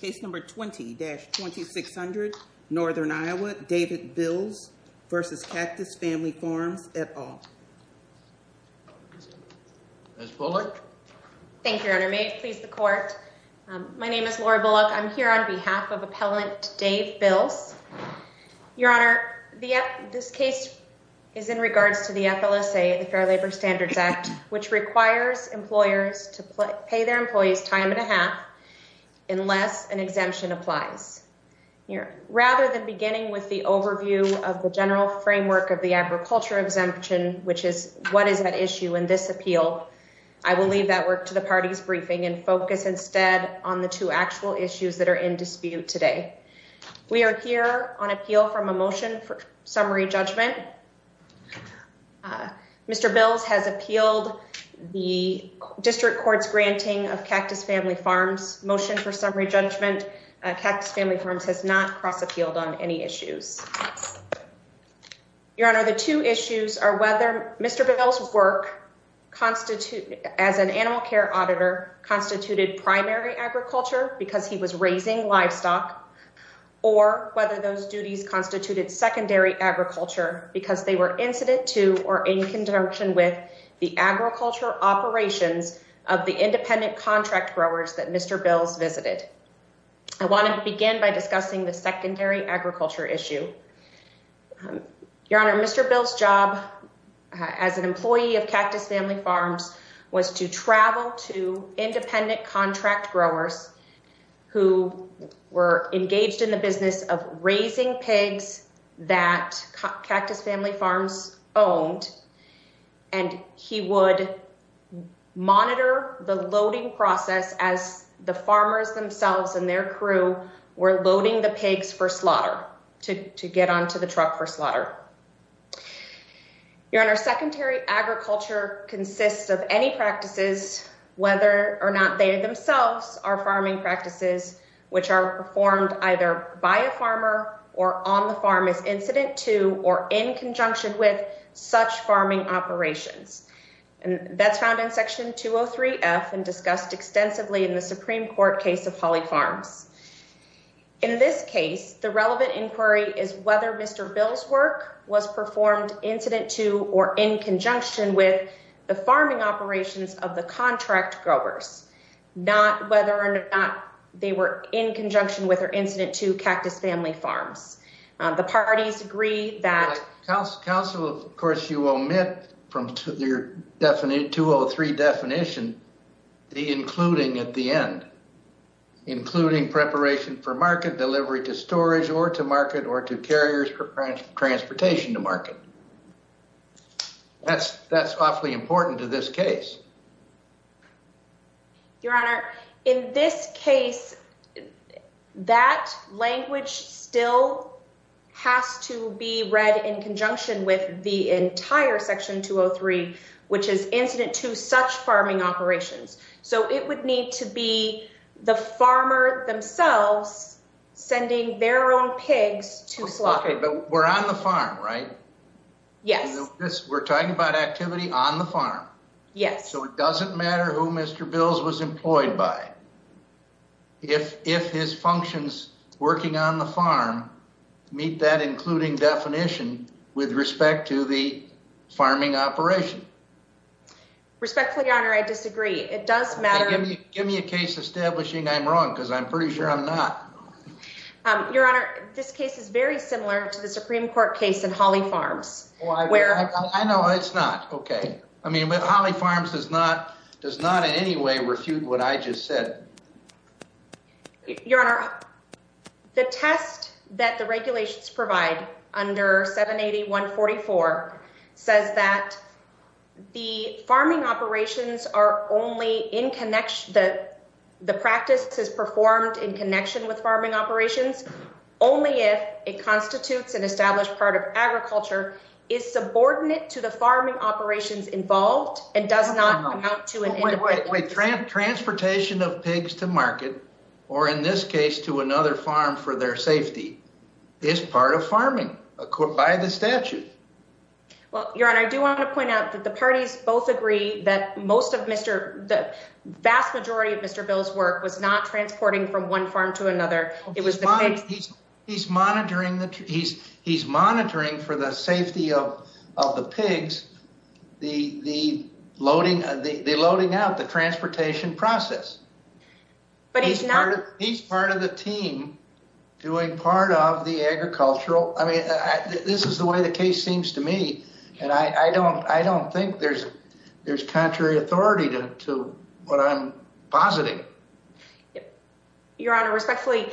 Case number 20-2600, Northern Iowa, David Bills v. Cactus Family Farms, et al. Ms. Bullock? Thank you, Your Honor. May it please the Court? My name is Laura Bullock. I'm here on behalf of Appellant Dave Bills. Your Honor, this case is in regards to the FLSA, the Fair Labor Standards Act, which requires employers to pay their employees time and a half unless an exemption applies. Rather than beginning with the overview of the general framework of the agriculture exemption, which is what is at issue in this appeal, I will leave that work to the party's briefing and focus instead on the two actual issues that are in dispute today. We are here on appeal from a motion for summary judgment. Mr. Bills has appealed the district court's granting of Cactus Family Farms motion for summary judgment. Cactus Family Farms has not cross-appealed on any issues. Your Honor, the two issues are whether Mr. Bills' work as an animal care auditor constituted primary agriculture because he was raising livestock, or whether those duties constituted secondary agriculture because they were incident to or in conjunction with the agriculture operations of the independent contract growers that Mr. Bills visited. I want to begin by discussing the secondary agriculture issue. Your Honor, Mr. Bills' job as an employee of Cactus Family Farms was to travel to independent contract growers who were engaged in the business of raising pigs that Cactus Family Farms owned, and he would monitor the loading process as the farmers themselves and their crew were loading the pigs for slaughter, to get onto the truck for slaughter. Your Honor, secondary agriculture consists of any practices, whether or not they themselves are farming practices, which are performed either by a farmer or on the farm as incident to or in conjunction with such farming operations. And that's found in Section 203F and discussed extensively in the Supreme Court case of Holly Farms. In this case, the relevant inquiry is whether Mr. Bills' work was performed incident to or in conjunction with the farming operations of the contract growers, not whether or not they were in conjunction with or incident to Cactus Family Farms. The parties agree that... Counsel, of course, you omit from your 203 definition the including at the end, including preparation for market delivery to storage or to market or to carriers for transportation to market. That's awfully important to this case. Your Honor, in this case, that language still has to be read in conjunction with the entire Section 203, which is incident to such farming operations. So it would need to be the farmer themselves sending their own pigs to slaughter. But we're on the farm, right? Yes. We're talking about activity on the farm. Yes. So it doesn't matter who Mr. Bills was employed by. If his functions working on the farm meet that including definition with respect to the farming operation. Respectfully, Your Honor, I disagree. It does matter... Give me a case establishing I'm wrong because I'm pretty sure I'm not. Your Honor, this case is very similar to the Supreme Court case in Holly Farms. I know it's not. Okay. I mean, Holly Farms does not in any way refute what I just said. Your Honor, the test that the regulations provide under 780-144 says that the farming operations are only in connection... The practice is performed in connection with farming operations only if it constitutes an established part of agriculture, is subordinate to the farming operations involved, and does not amount to... Wait. Transportation of pigs to market, or in this case to another farm for their safety, is part of farming by the statute. Well, Your Honor, I do want to point out that the parties both agree that most of Mr... The vast majority of Mr. Bills' work was not transporting from one farm to another. It was the pigs... He's monitoring for the safety of the pigs, the loading out, the transportation process. But he's not... He's part of the team doing part of the agricultural... I mean, this is the way the case seems to me, and I don't think there's contrary authority to what I'm positing. Your Honor, respectfully,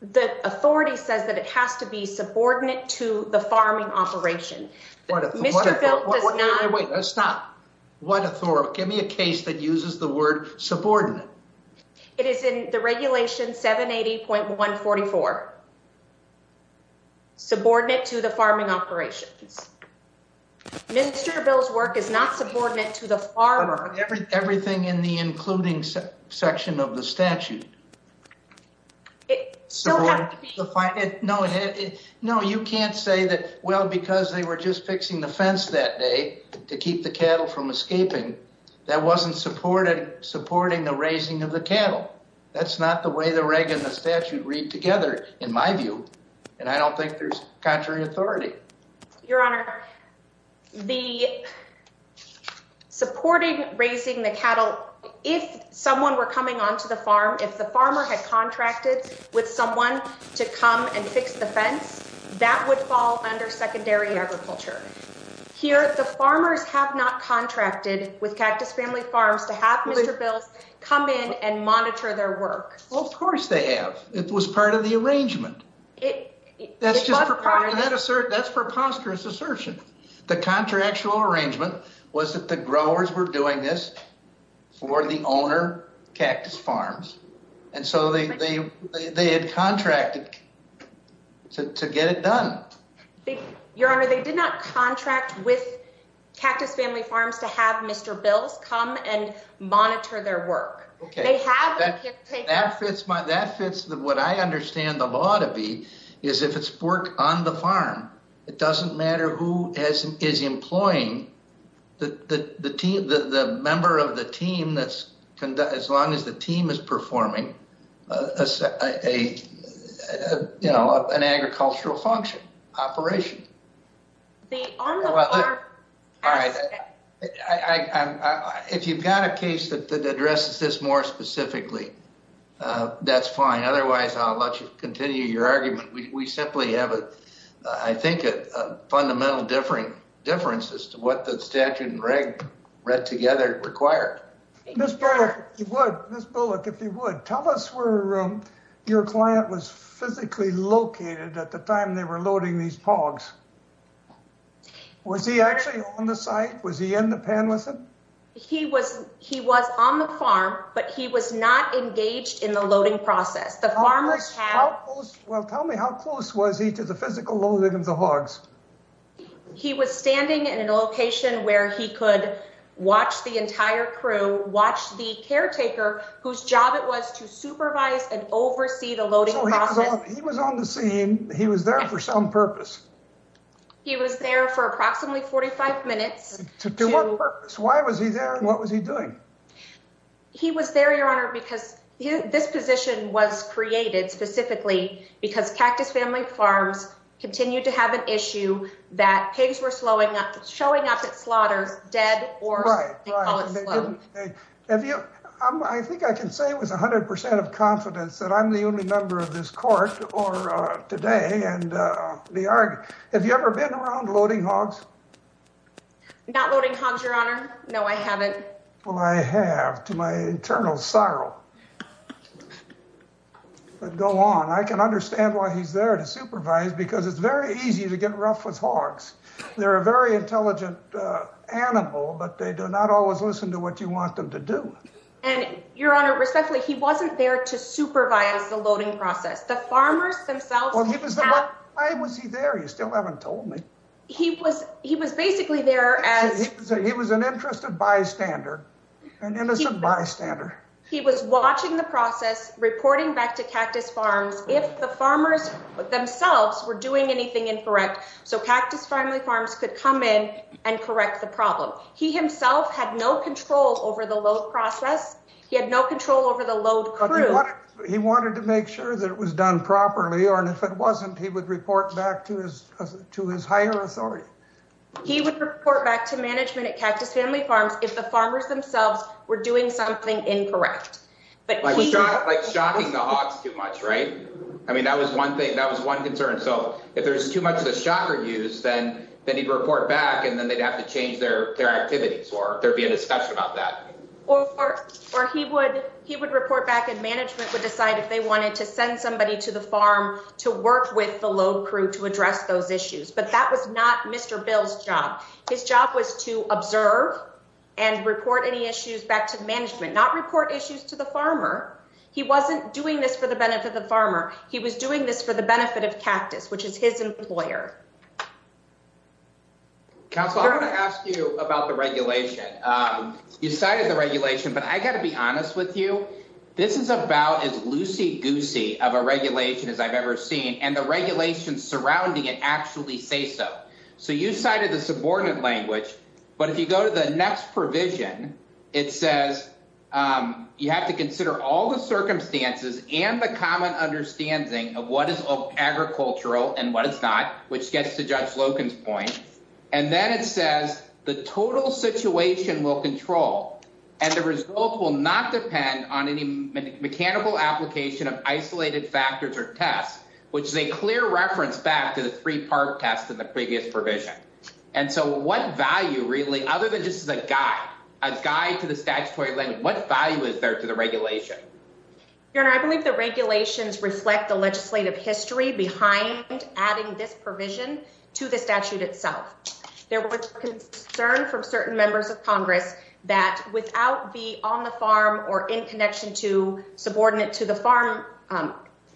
the authority says that it has to be subordinate to the farming operation. Mr. Bill does not... Wait, stop. What authority? Give me a case that uses the word subordinate. It is in the regulation 780.144, subordinate to the farming operations. Mr. Bill's work is not subordinate to the farming... Everything in the including section of the statute. It still has to be... No, you can't say that, well, because they were just fixing the fence that day to keep the cattle from escaping, that wasn't supporting the raising of the cattle. That's not the way the reg and the statute read together, in my view, and I don't think there's contrary authority. Your Honor, the supporting raising the cattle... If someone were coming onto the farm, if the farmer had contracted with someone to come and fix the fence, that would fall under secondary agriculture. Here, the farmers have not contracted with Cactus Family Farms to have Mr. Bill come in and monitor their work. Of course they have. It was part of the arrangement. That's preposterous assertion. The contractual arrangement was that the growers were doing this for the owner, Cactus Farms, and so they had contracted to get it done. Your Honor, they did not contract with Cactus Family Farms to have Mr. Bill come and monitor their work. That fits what I understand the law to be, is if it's work on the farm, it doesn't matter who is employing the member of the team, as long as the team is performing an agricultural function, operation. If you've got a case that addresses this more specifically, that's fine. Otherwise, I'll let you continue your argument. We simply have, I think, a fundamental difference as to what the statute and reg read together required. Ms. Bullock, if you would, tell us where your client was physically located at the time they were loading these hogs. Was he actually on the site? Was he in the pen with them? He was on the farm, but he was not engaged in the loading process. Well, tell me, how close was he to the physical loading of the hogs? He was standing in a location where he could watch the entire crew, watch the caretaker, whose job it was to supervise and oversee the loading process. He was on the scene. He was there for some purpose. He was there for approximately 45 minutes. To what purpose? Why was he there and what was he doing? He was there, Your Honor, because this position was created specifically because Cactus Family Farms continued to have an issue that pigs were showing up at slaughters dead or, they call it slow. I think I can say with 100% of confidence that I'm the only member of this court today. Have you ever been around loading hogs? Not loading hogs, Your Honor. No, I haven't. Well, I have to my internal sorrow. But go on. I can understand why he's there to supervise because it's very easy to get rough with hogs. They're a very intelligent animal, but they do not always listen to what you want them to do. And, Your Honor, respectfully, he wasn't there to supervise the loading process. The farmers themselves... Why was he there? You still haven't told me. He was basically there as... He was an interested bystander, an innocent bystander. He was watching the process, reporting back to Cactus Farms. If the farmers themselves were doing anything incorrect, so Cactus Family Farms could come in and correct the problem. He himself had no control over the load process. He had no control over the load crew. He wanted to make sure that it was done properly, or if it wasn't, he would report back to his higher authority. He would report back to management at Cactus Family Farms if the farmers themselves were doing something incorrect. Like shocking the hogs too much, right? I mean, that was one thing. That was one concern. So if there's too much of a shocker use, then he'd report back and then they'd have to change their activities or there'd be a discussion about that. Or he would report back and management would decide if they wanted to send somebody to the farm to work with the load crew to address those issues. But that was not Mr. Bill's job. His job was to observe and report any issues back to management, not report issues to the farmer. He wasn't doing this for the benefit of the farmer. He was doing this for the benefit of Cactus, which is his employer. Counselor, I want to ask you about the regulation. You cited the regulation, but I got to be honest with you. This is about as loosey goosey of a regulation as I've ever seen. And the regulations surrounding it actually say so. So you cited the subordinate language. But if you go to the next provision, it says you have to consider all the circumstances and the common understanding of what is agricultural and what it's not. Which gets to Judge Logan's point. And then it says the total situation will control and the result will not depend on any mechanical application of isolated factors or tests, which is a clear reference back to the three part test of the previous provision. And so what value really, other than just as a guy, a guy to the statutory language, what value is there to the regulation? I believe the regulations reflect the legislative history behind adding this provision to the statute itself. There was concern from certain members of Congress that without be on the farm or in connection to subordinate to the farm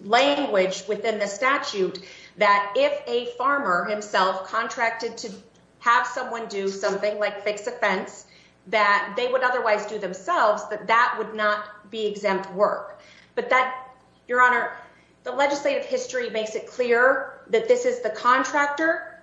language within the statute, that if a farmer himself contracted to have someone do something like fix a fence that they would otherwise do themselves, that that would not be exempt work. Your Honor, the legislative history makes it clear that this is the contractor.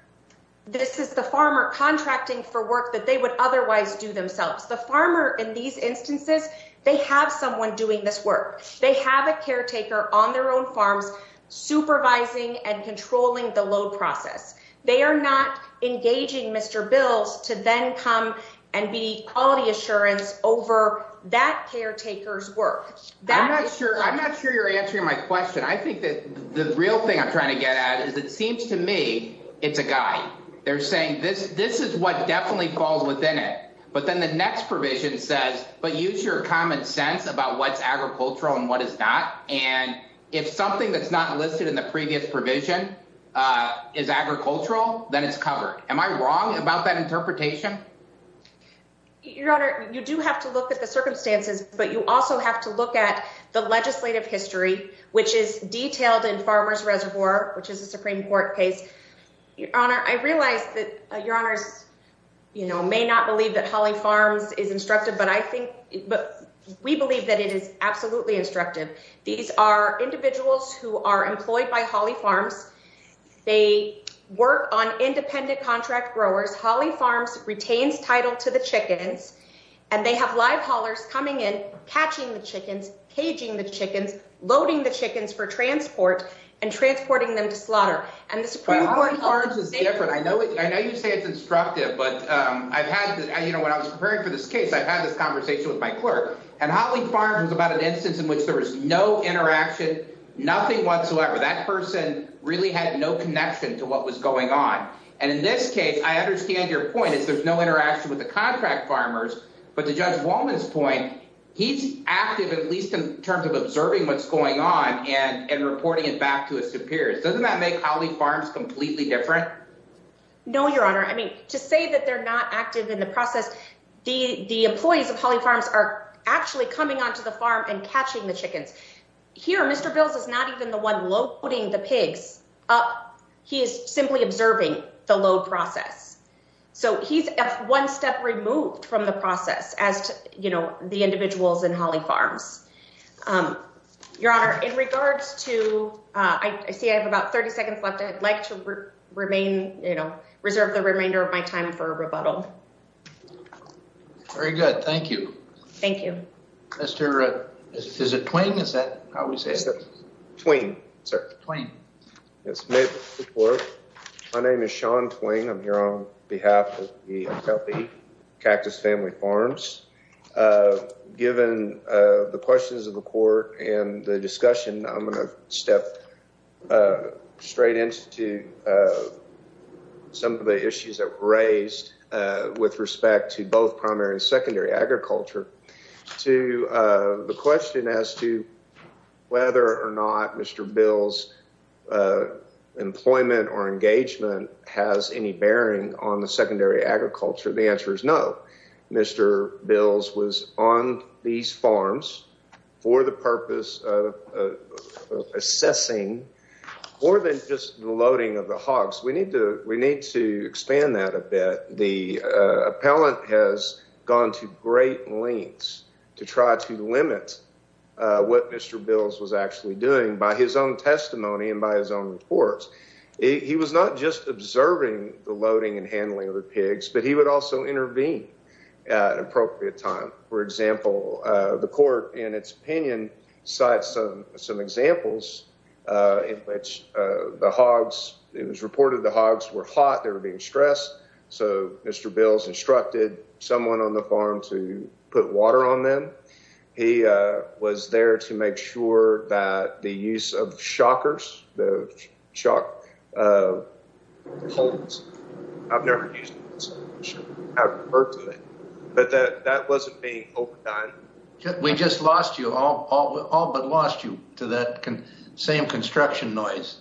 This is the farmer contracting for work that they would otherwise do themselves. The farmer in these instances, they have someone doing this work. They have a caretaker on their own farms supervising and controlling the load process. They are not engaging Mr. Bills to then come and be quality assurance over that caretaker's work. I'm not sure. I'm not sure you're answering my question. I think that the real thing I'm trying to get at is it seems to me it's a guy. They're saying this. This is what definitely falls within it. But then the next provision says, but use your common sense about what's agricultural and what is not. And if something that's not listed in the previous provision is agricultural, then it's covered. Am I wrong about that interpretation? Your Honor, you do have to look at the circumstances, but you also have to look at the legislative history, which is detailed in Farmers Reservoir, which is a Supreme Court case. Your Honor, I realize that your honors may not believe that Holly Farms is instructive, but I think we believe that it is absolutely instructive. These are individuals who are employed by Holly Farms. They work on independent contract growers. Holly Farms retains title to the chickens and they have live haulers coming in, catching the chickens, caging the chickens, loading the chickens for transport and transporting them to slaughter. Holly Farms is different. I know you say it's instructive, but when I was preparing for this case, I had this conversation with my clerk and Holly Farms was about an instance in which there was no interaction, nothing whatsoever. That person really had no connection to what was going on. And in this case, I understand your point is there's no interaction with the contract farmers. But to Judge Wallman's point, he's active, at least in terms of observing what's going on and reporting it back to his superiors. Doesn't that make Holly Farms completely different? No, Your Honor. I mean, to say that they're not active in the process, the employees of Holly Farms are actually coming onto the farm and catching the chickens. Here, Mr. Bills is not even the one loading the pigs up. He is simply observing the load process. So he's one step removed from the process as to, you know, the individuals in Holly Farms. Your Honor, in regards to, I see I have about 30 seconds left. I'd like to remain, you know, reserve the remainder of my time for a rebuttal. Very good. Thank you. Thank you. Mr. Twain, is that how we say it? Twain, sir. Twain. My name is Sean Twain. I'm here on behalf of the Akelpi Cactus Family Farms. Given the questions of the court and the discussion, I'm going to step straight into some of the issues that were raised with respect to both primary and secondary agriculture. To the question as to whether or not Mr. Bills' employment or engagement has any bearing on the secondary agriculture, the answer is no. Mr. Bills was on these farms for the purpose of assessing more than just the loading of the hogs. We need to expand that a bit. The appellant has gone to great lengths to try to limit what Mr. Bills was actually doing by his own testimony and by his own reports. He was not just observing the loading and handling of the pigs, but he would also intervene at an appropriate time. The court, in its opinion, cited some examples in which it was reported the hogs were hot, they were being stressed, so Mr. Bills instructed someone on the farm to put water on them. He was there to make sure that the use of shockers, the shock poles, I've never used them, but that wasn't being overdone. We just lost you, all but lost you to that same construction noise.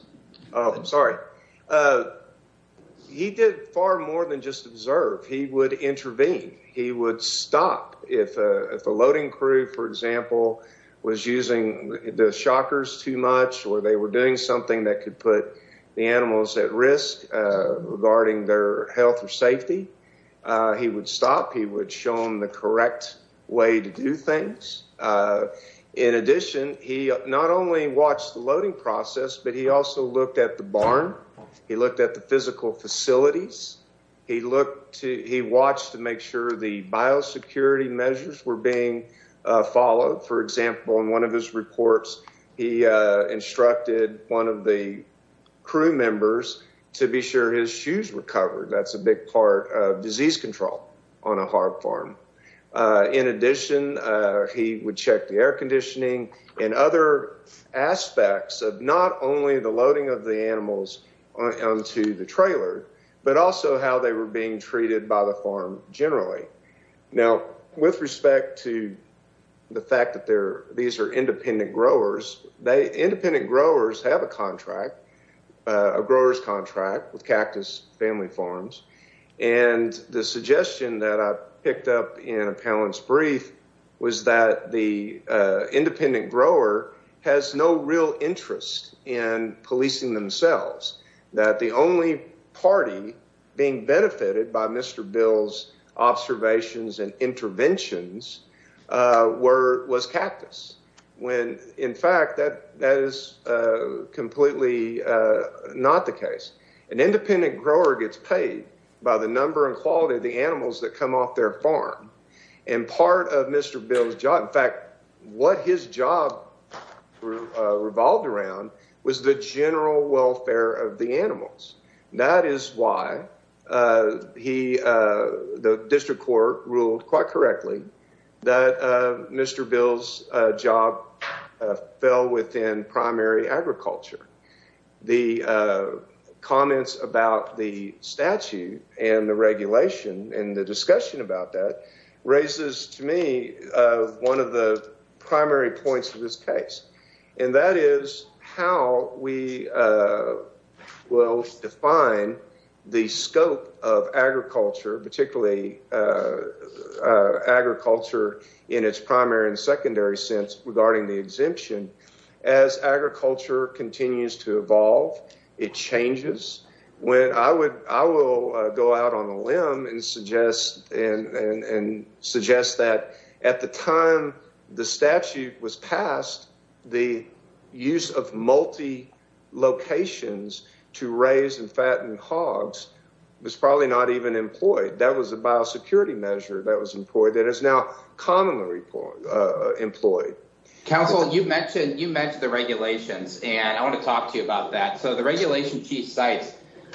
He did far more than just observe. He would intervene. He would stop if a loading crew, for example, was using the shockers too much or they were doing something that could put the animals at risk regarding their health or safety. He would stop. He would show them the correct way to do things. In addition, he not only watched the loading process, but he also looked at the barn. He looked at the physical facilities. He watched to make sure the biosecurity measures were being followed. For example, in one of his reports, he instructed one of the crew members to be sure his shoes were covered. That's a big part of disease control on a hog farm. In addition, he would check the air conditioning and other aspects of not only the loading of the animals onto the trailer, but also how they were being treated by the farm generally. Now, with respect to the fact that these are independent growers, independent growers have a contract, a grower's contract with Cactus Family Farms. The suggestion that I picked up in a panelist's brief was that the independent grower has no real interest in policing themselves. That the only party being benefited by Mr. Bill's observations and interventions was Cactus. In fact, that is completely not the case. An independent grower gets paid by the number and quality of the animals that come off their farm and part of Mr. Bill's job. In fact, what his job revolved around was the general welfare of the animals. That is why the district court ruled quite correctly that Mr. Bill's job fell within primary agriculture. The comments about the statute and the regulation and the discussion about that raises to me one of the primary points of this case. That is how we will define the scope of agriculture, particularly agriculture in its primary and secondary sense regarding the exemption. As agriculture continues to evolve, it changes. I will go out on a limb and suggest that at the time the statute was passed, the use of multi-locations to raise and fatten hogs was probably not even employed. That was a biosecurity measure that was employed that is now commonly employed. Council, you mentioned the regulations. I want to talk to you about that. The regulation Chief Cites,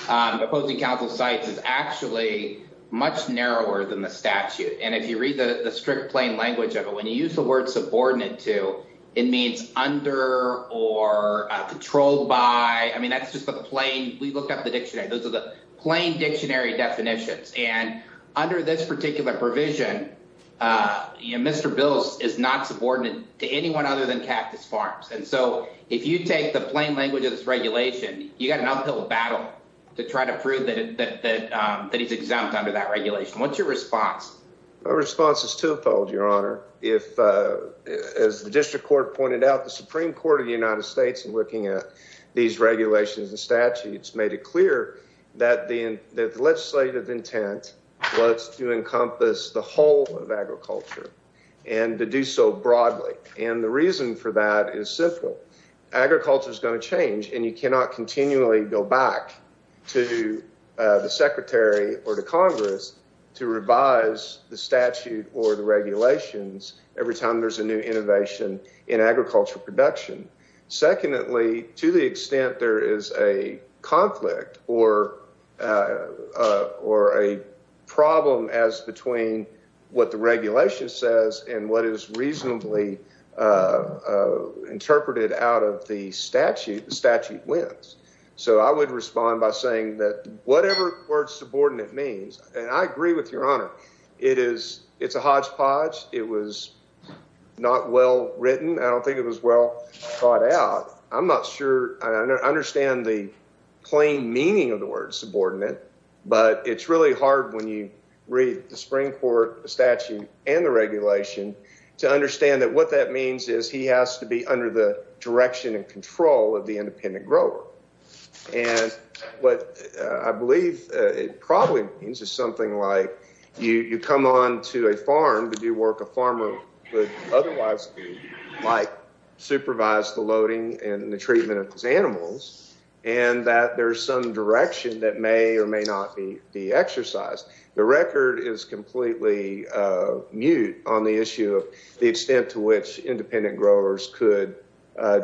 opposing Council Cites, is actually much narrower than the statute. If you read the strict plain language of it, when you use the word subordinate to, it means under or controlled by. That is just the plain. We looked up the dictionary. Those are the plain dictionary definitions. Under this particular provision, Mr. Bills is not subordinate to anyone other than Cactus Farms. If you take the plain language of this regulation, you have an uphill battle to try to prove that he is exempt under that regulation. What is your response? As the district court pointed out, the Supreme Court of the United States, in looking at these regulations and statutes, made it clear that the legislative intent was to encompass the whole of agriculture and to do so broadly. The reason for that is simple. Agriculture is going to change, and you cannot continually go back to the Secretary or to Congress to revise the statute or the regulations every time there's a new innovation in agriculture production. Secondly, to the extent there is a conflict or a problem as between what the regulation says and what is reasonably interpreted out of the statute, the statute wins. So I would respond by saying that whatever the word subordinate means, and I agree with Your Honor, it's a hodgepodge. It was not well written. I don't think it was well thought out. I'm not sure I understand the plain meaning of the word subordinate, but it's really hard when you read the Supreme Court statute and the regulation to understand that what that means is he has to be under the direction and control of the independent grower. And what I believe it probably means is something like you come on to a farm to do work a farmer would otherwise do, like supervise the loading and the treatment of his animals, and that there's some direction that may or may not be exercised. The record is completely mute on the issue of the extent to which independent growers could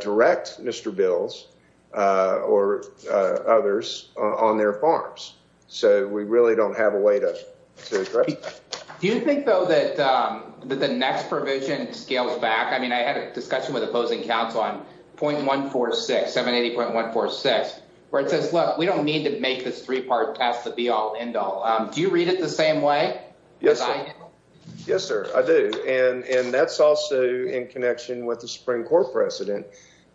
direct Mr. Bills or others on their farms. So we really don't have a way to correct. Do you think, though, that the next provision scales back? I mean, I had a discussion with opposing counsel on point one, four, six, seven, eighty point one, four, six, where it says, look, we don't need to make this three part test to be all end all. Do you read it the same way? Yes. Yes, sir. And that's also in connection with the Supreme Court precedent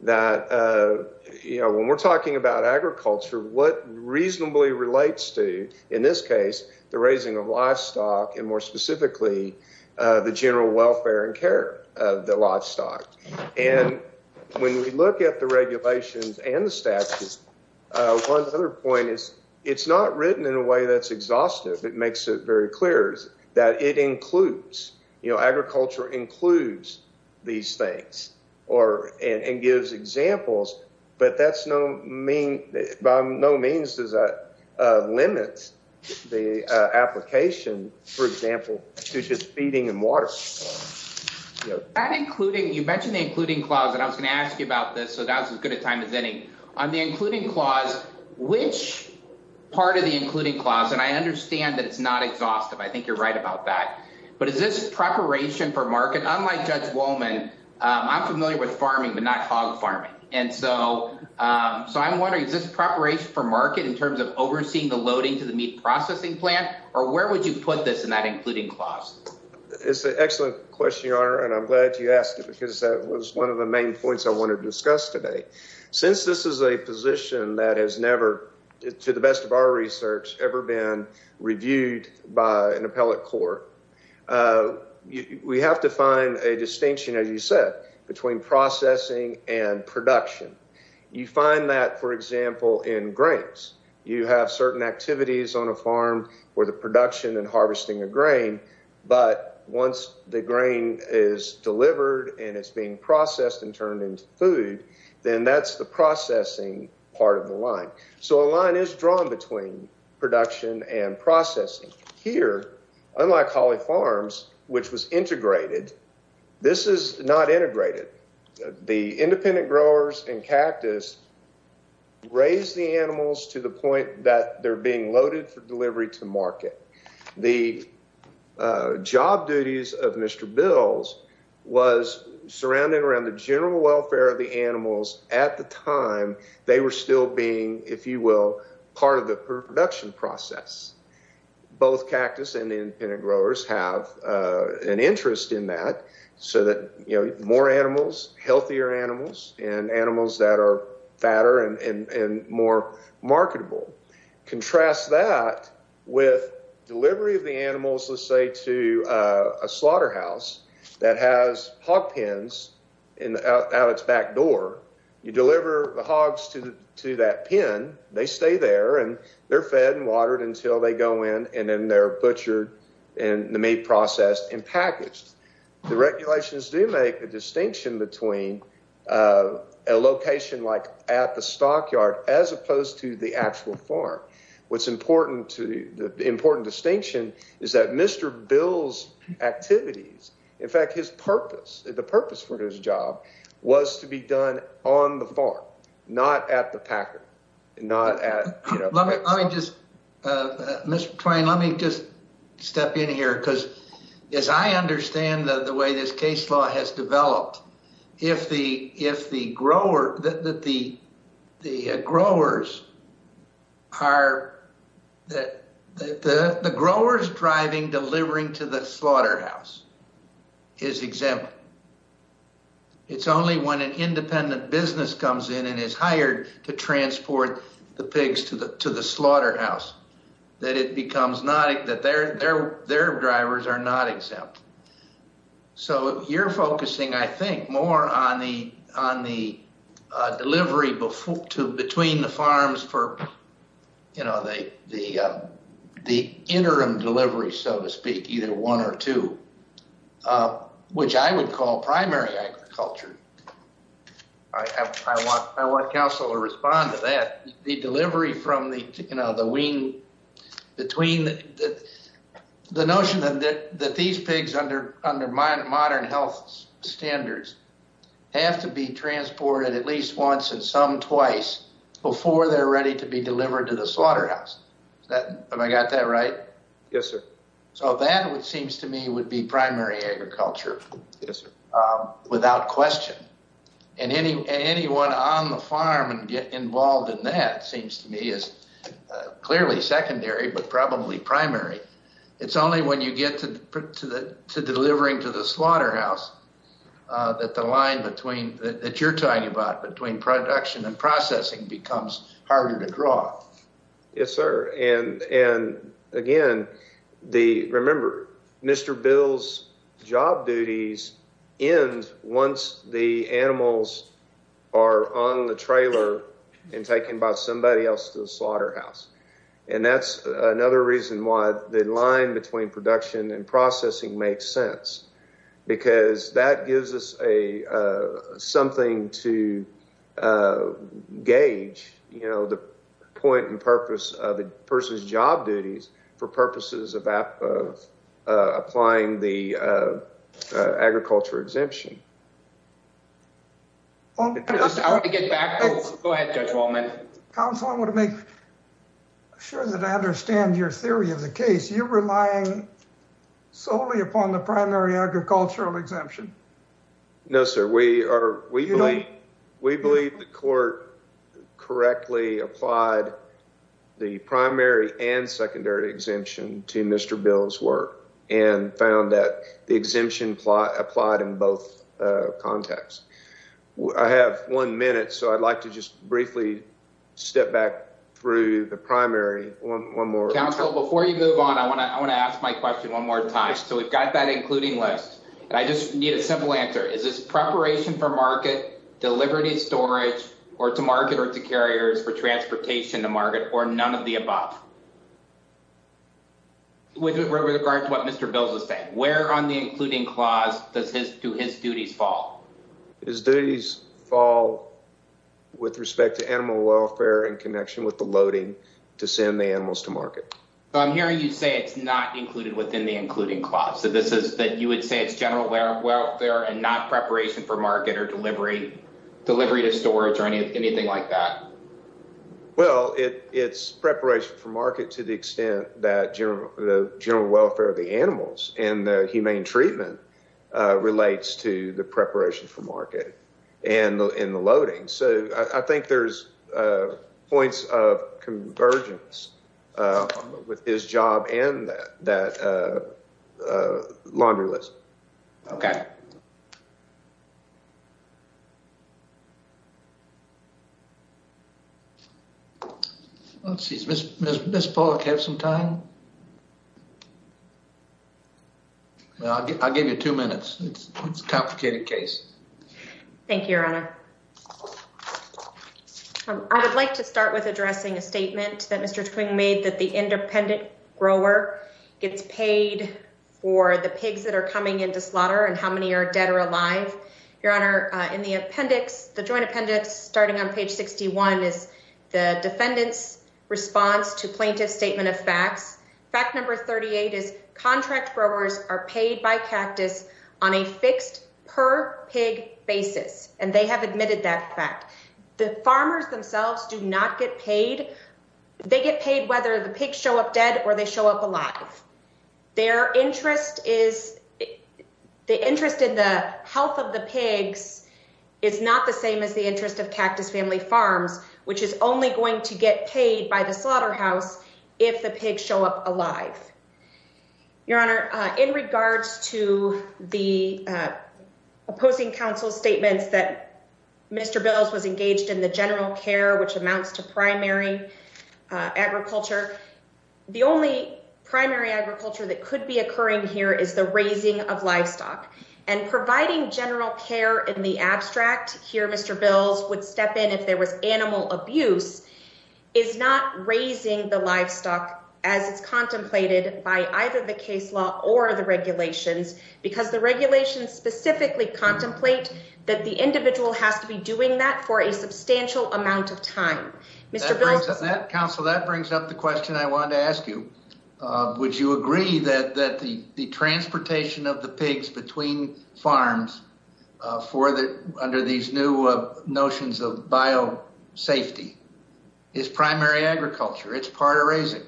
that, you know, when we're talking about agriculture, what reasonably relates to, in this case, the raising of livestock and more specifically, the general welfare and care of the livestock. And when we look at the regulations and the statutes, one other point is it's not written in a way that's exhaustive. It makes it very clear that it includes, you know, agriculture includes these things or and gives examples. But that's no mean by no means does that limit the application, for example, to just feeding and water. And including you mentioned the including clause that I was going to ask you about this. So that's as good a time as any on the including clause. Which part of the including clause? And I understand that it's not exhaustive. I think you're right about that. But is this preparation for market? Unlike Judge Wollman, I'm familiar with farming, but not hog farming. And so so I'm wondering, is this preparation for market in terms of overseeing the loading to the meat processing plant? Or where would you put this in that including clause? It's an excellent question, Your Honor, and I'm glad you asked it because that was one of the main points I want to discuss today. Since this is a position that has never, to the best of our research, ever been reviewed by an appellate court. We have to find a distinction, as you said, between processing and production. You find that, for example, in grains. You have certain activities on a farm where the production and harvesting of grain. But once the grain is delivered and it's being processed and turned into food, then that's the processing part of the line. So a line is drawn between production and processing. Here, unlike Holly Farms, which was integrated, this is not integrated. The independent growers and cactus raise the animals to the point that they're being loaded for delivery to market. The job duties of Mr. Bills was surrounding around the general welfare of the animals. At the time, they were still being, if you will, part of the production process. Both cactus and independent growers have an interest in that so that more animals, healthier animals, and animals that are fatter and more marketable. Contrast that with delivery of the animals, let's say, to a slaughterhouse that has hog pens out its back door. You deliver the hogs to that pen. They stay there, and they're fed and watered until they go in, and then they're butchered and the meat processed and packaged. The regulations do make a distinction between a location like at the stockyard as opposed to the actual farm. The important distinction is that Mr. Bills' activities, in fact, his purpose, the purpose for his job, was to be done on the farm, not at the packer. Let me just, Mr. Twain, let me just step in here, because as I understand the way this case law has developed, if the growers are—the growers driving delivering to the slaughterhouse is exempt. It's only when an independent business comes in and is hired to transport the pigs to the slaughterhouse that it becomes not—that their drivers are not exempt. So you're focusing, I think, more on the delivery between the farms for the interim delivery, so to speak, either one or two, which I would call primary agriculture. I want counsel to respond to that. The notion that these pigs, under modern health standards, have to be transported at least once and some twice before they're ready to be delivered to the slaughterhouse. Have I got that right? Yes, sir. So that, it seems to me, would be primary agriculture. Yes, sir. Without question. And anyone on the farm involved in that, it seems to me, is clearly secondary, but probably primary. It's only when you get to delivering to the slaughterhouse that the line between—that you're talking about, between production and processing, becomes harder to draw. Yes, sir. Again, remember, Mr. Bill's job duties end once the animals are on the trailer and taken by somebody else to the slaughterhouse. And that's another reason why the line between production and processing makes sense, because that gives us something to gauge, you know, the point and purpose of a person's job duties for purposes of applying the agriculture exemption. I want to get back—go ahead, Judge Wallman. Counsel, I want to make sure that I understand your theory of the case. You're relying solely upon the primary agricultural exemption? No, sir. We believe the court correctly applied the primary and secondary exemption to Mr. Bill's work and found that the exemption applied in both contexts. I have one minute, so I'd like to just briefly step back through the primary one more time. Counsel, before you move on, I want to ask my question one more time. So, we've got that including list, and I just need a simple answer. Is this preparation for market, delivery and storage, or to market or to carriers, for transportation to market, or none of the above? With regard to what Mr. Bill was saying, where on the including clause do his duties fall? His duties fall with respect to animal welfare in connection with the loading to send the animals to market. I'm hearing you say it's not included within the including clause, that you would say it's general welfare and not preparation for market or delivery to storage or anything like that. Well, it's preparation for market to the extent that the general welfare of the animals and the humane treatment relates to the preparation for market and the loading. So, I think there's points of convergence with his job and that laundry list. Okay. Let's see. Does Ms. Pollock have some time? I'll give you two minutes. It's a complicated case. Thank you, Your Honor. I would like to start with addressing a statement that Mr. Twain made that the independent grower gets paid for the pigs that are coming into slaughter and how many are dead or alive. Your Honor, in the appendix, the joint appendix starting on page 61 is the defendant's response to plaintiff's statement of facts. Fact number 38 is contract growers are paid by cactus on a fixed per pig basis, and they have admitted that fact. The farmers themselves do not get paid. They get paid whether the pigs show up dead or they show up alive. Their interest is the interest in the health of the pigs is not the same as the interest of cactus family farms, which is only going to get paid by the slaughterhouse if the pigs show up alive. Your Honor, in regards to the opposing counsel statements that Mr. Bills was engaged in the general care, which amounts to primary agriculture. The only primary agriculture that could be occurring here is the raising of livestock and providing general care in the abstract. Here, Mr. Bills would step in if there was animal abuse is not raising the livestock as it's contemplated by either the case law or the regulations because the regulations specifically contemplate that the individual has to be doing that for a substantial amount of time. Counsel, that brings up the question I wanted to ask you. Would you agree that that the transportation of the pigs between farms for the under these new notions of bio safety is primary agriculture? It's part of raising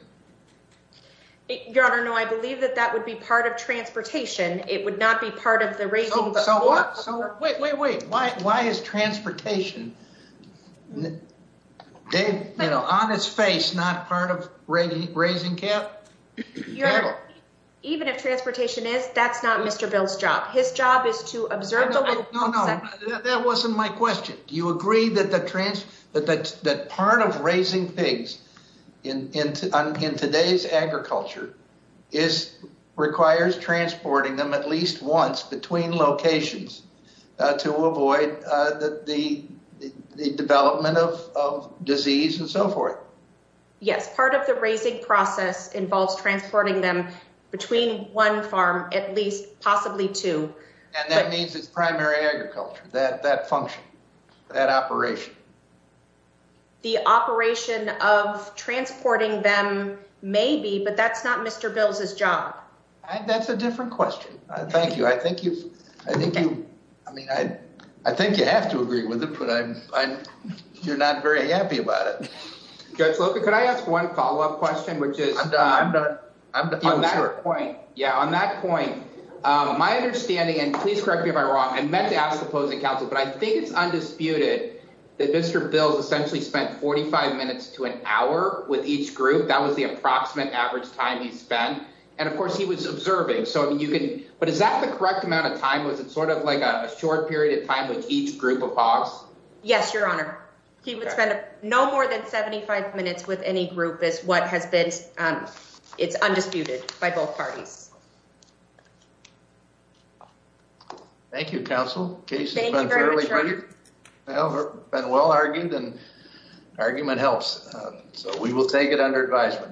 your honor. No, I believe that that would be part of transportation. It would not be part of the race. Wait, wait, wait. Why? Why is transportation on its face? Not part of raising cattle. Even if transportation is, that's not Mr. Bills job. His job is to observe. No, that wasn't my question. Do you agree that that part of raising pigs in today's agriculture is requires transporting them at least once between locations to avoid the development of disease and so forth? Yes, part of the raising process involves transporting them between one farm, at least possibly two. And that means it's primary agriculture that function. That operation. The operation of transporting them. Maybe, but that's not Mr. Bill's his job. That's a different question. Thank you. I think you, I think you, I mean, I, I think you have to agree with it, but I'm, I'm, you're not very happy about it. Could I ask one follow up question, which is on that point? Yeah, on that point, my understanding, and please correct me if I'm wrong. I meant to ask the opposing counsel, but I think it's undisputed that Mr. Bill's essentially spent 45 minutes to an hour with each group. That was the approximate average time he spent. And, of course, he was observing. So, I mean, you can, but is that the correct amount of time? Was it sort of like a short period of time with each group of hogs? Yes, your honor. He would spend no more than 75 minutes with any group is what has been. It's undisputed by both parties. Thank you. Counsel case. Well, argued and argument helps. So we will take it under advisement.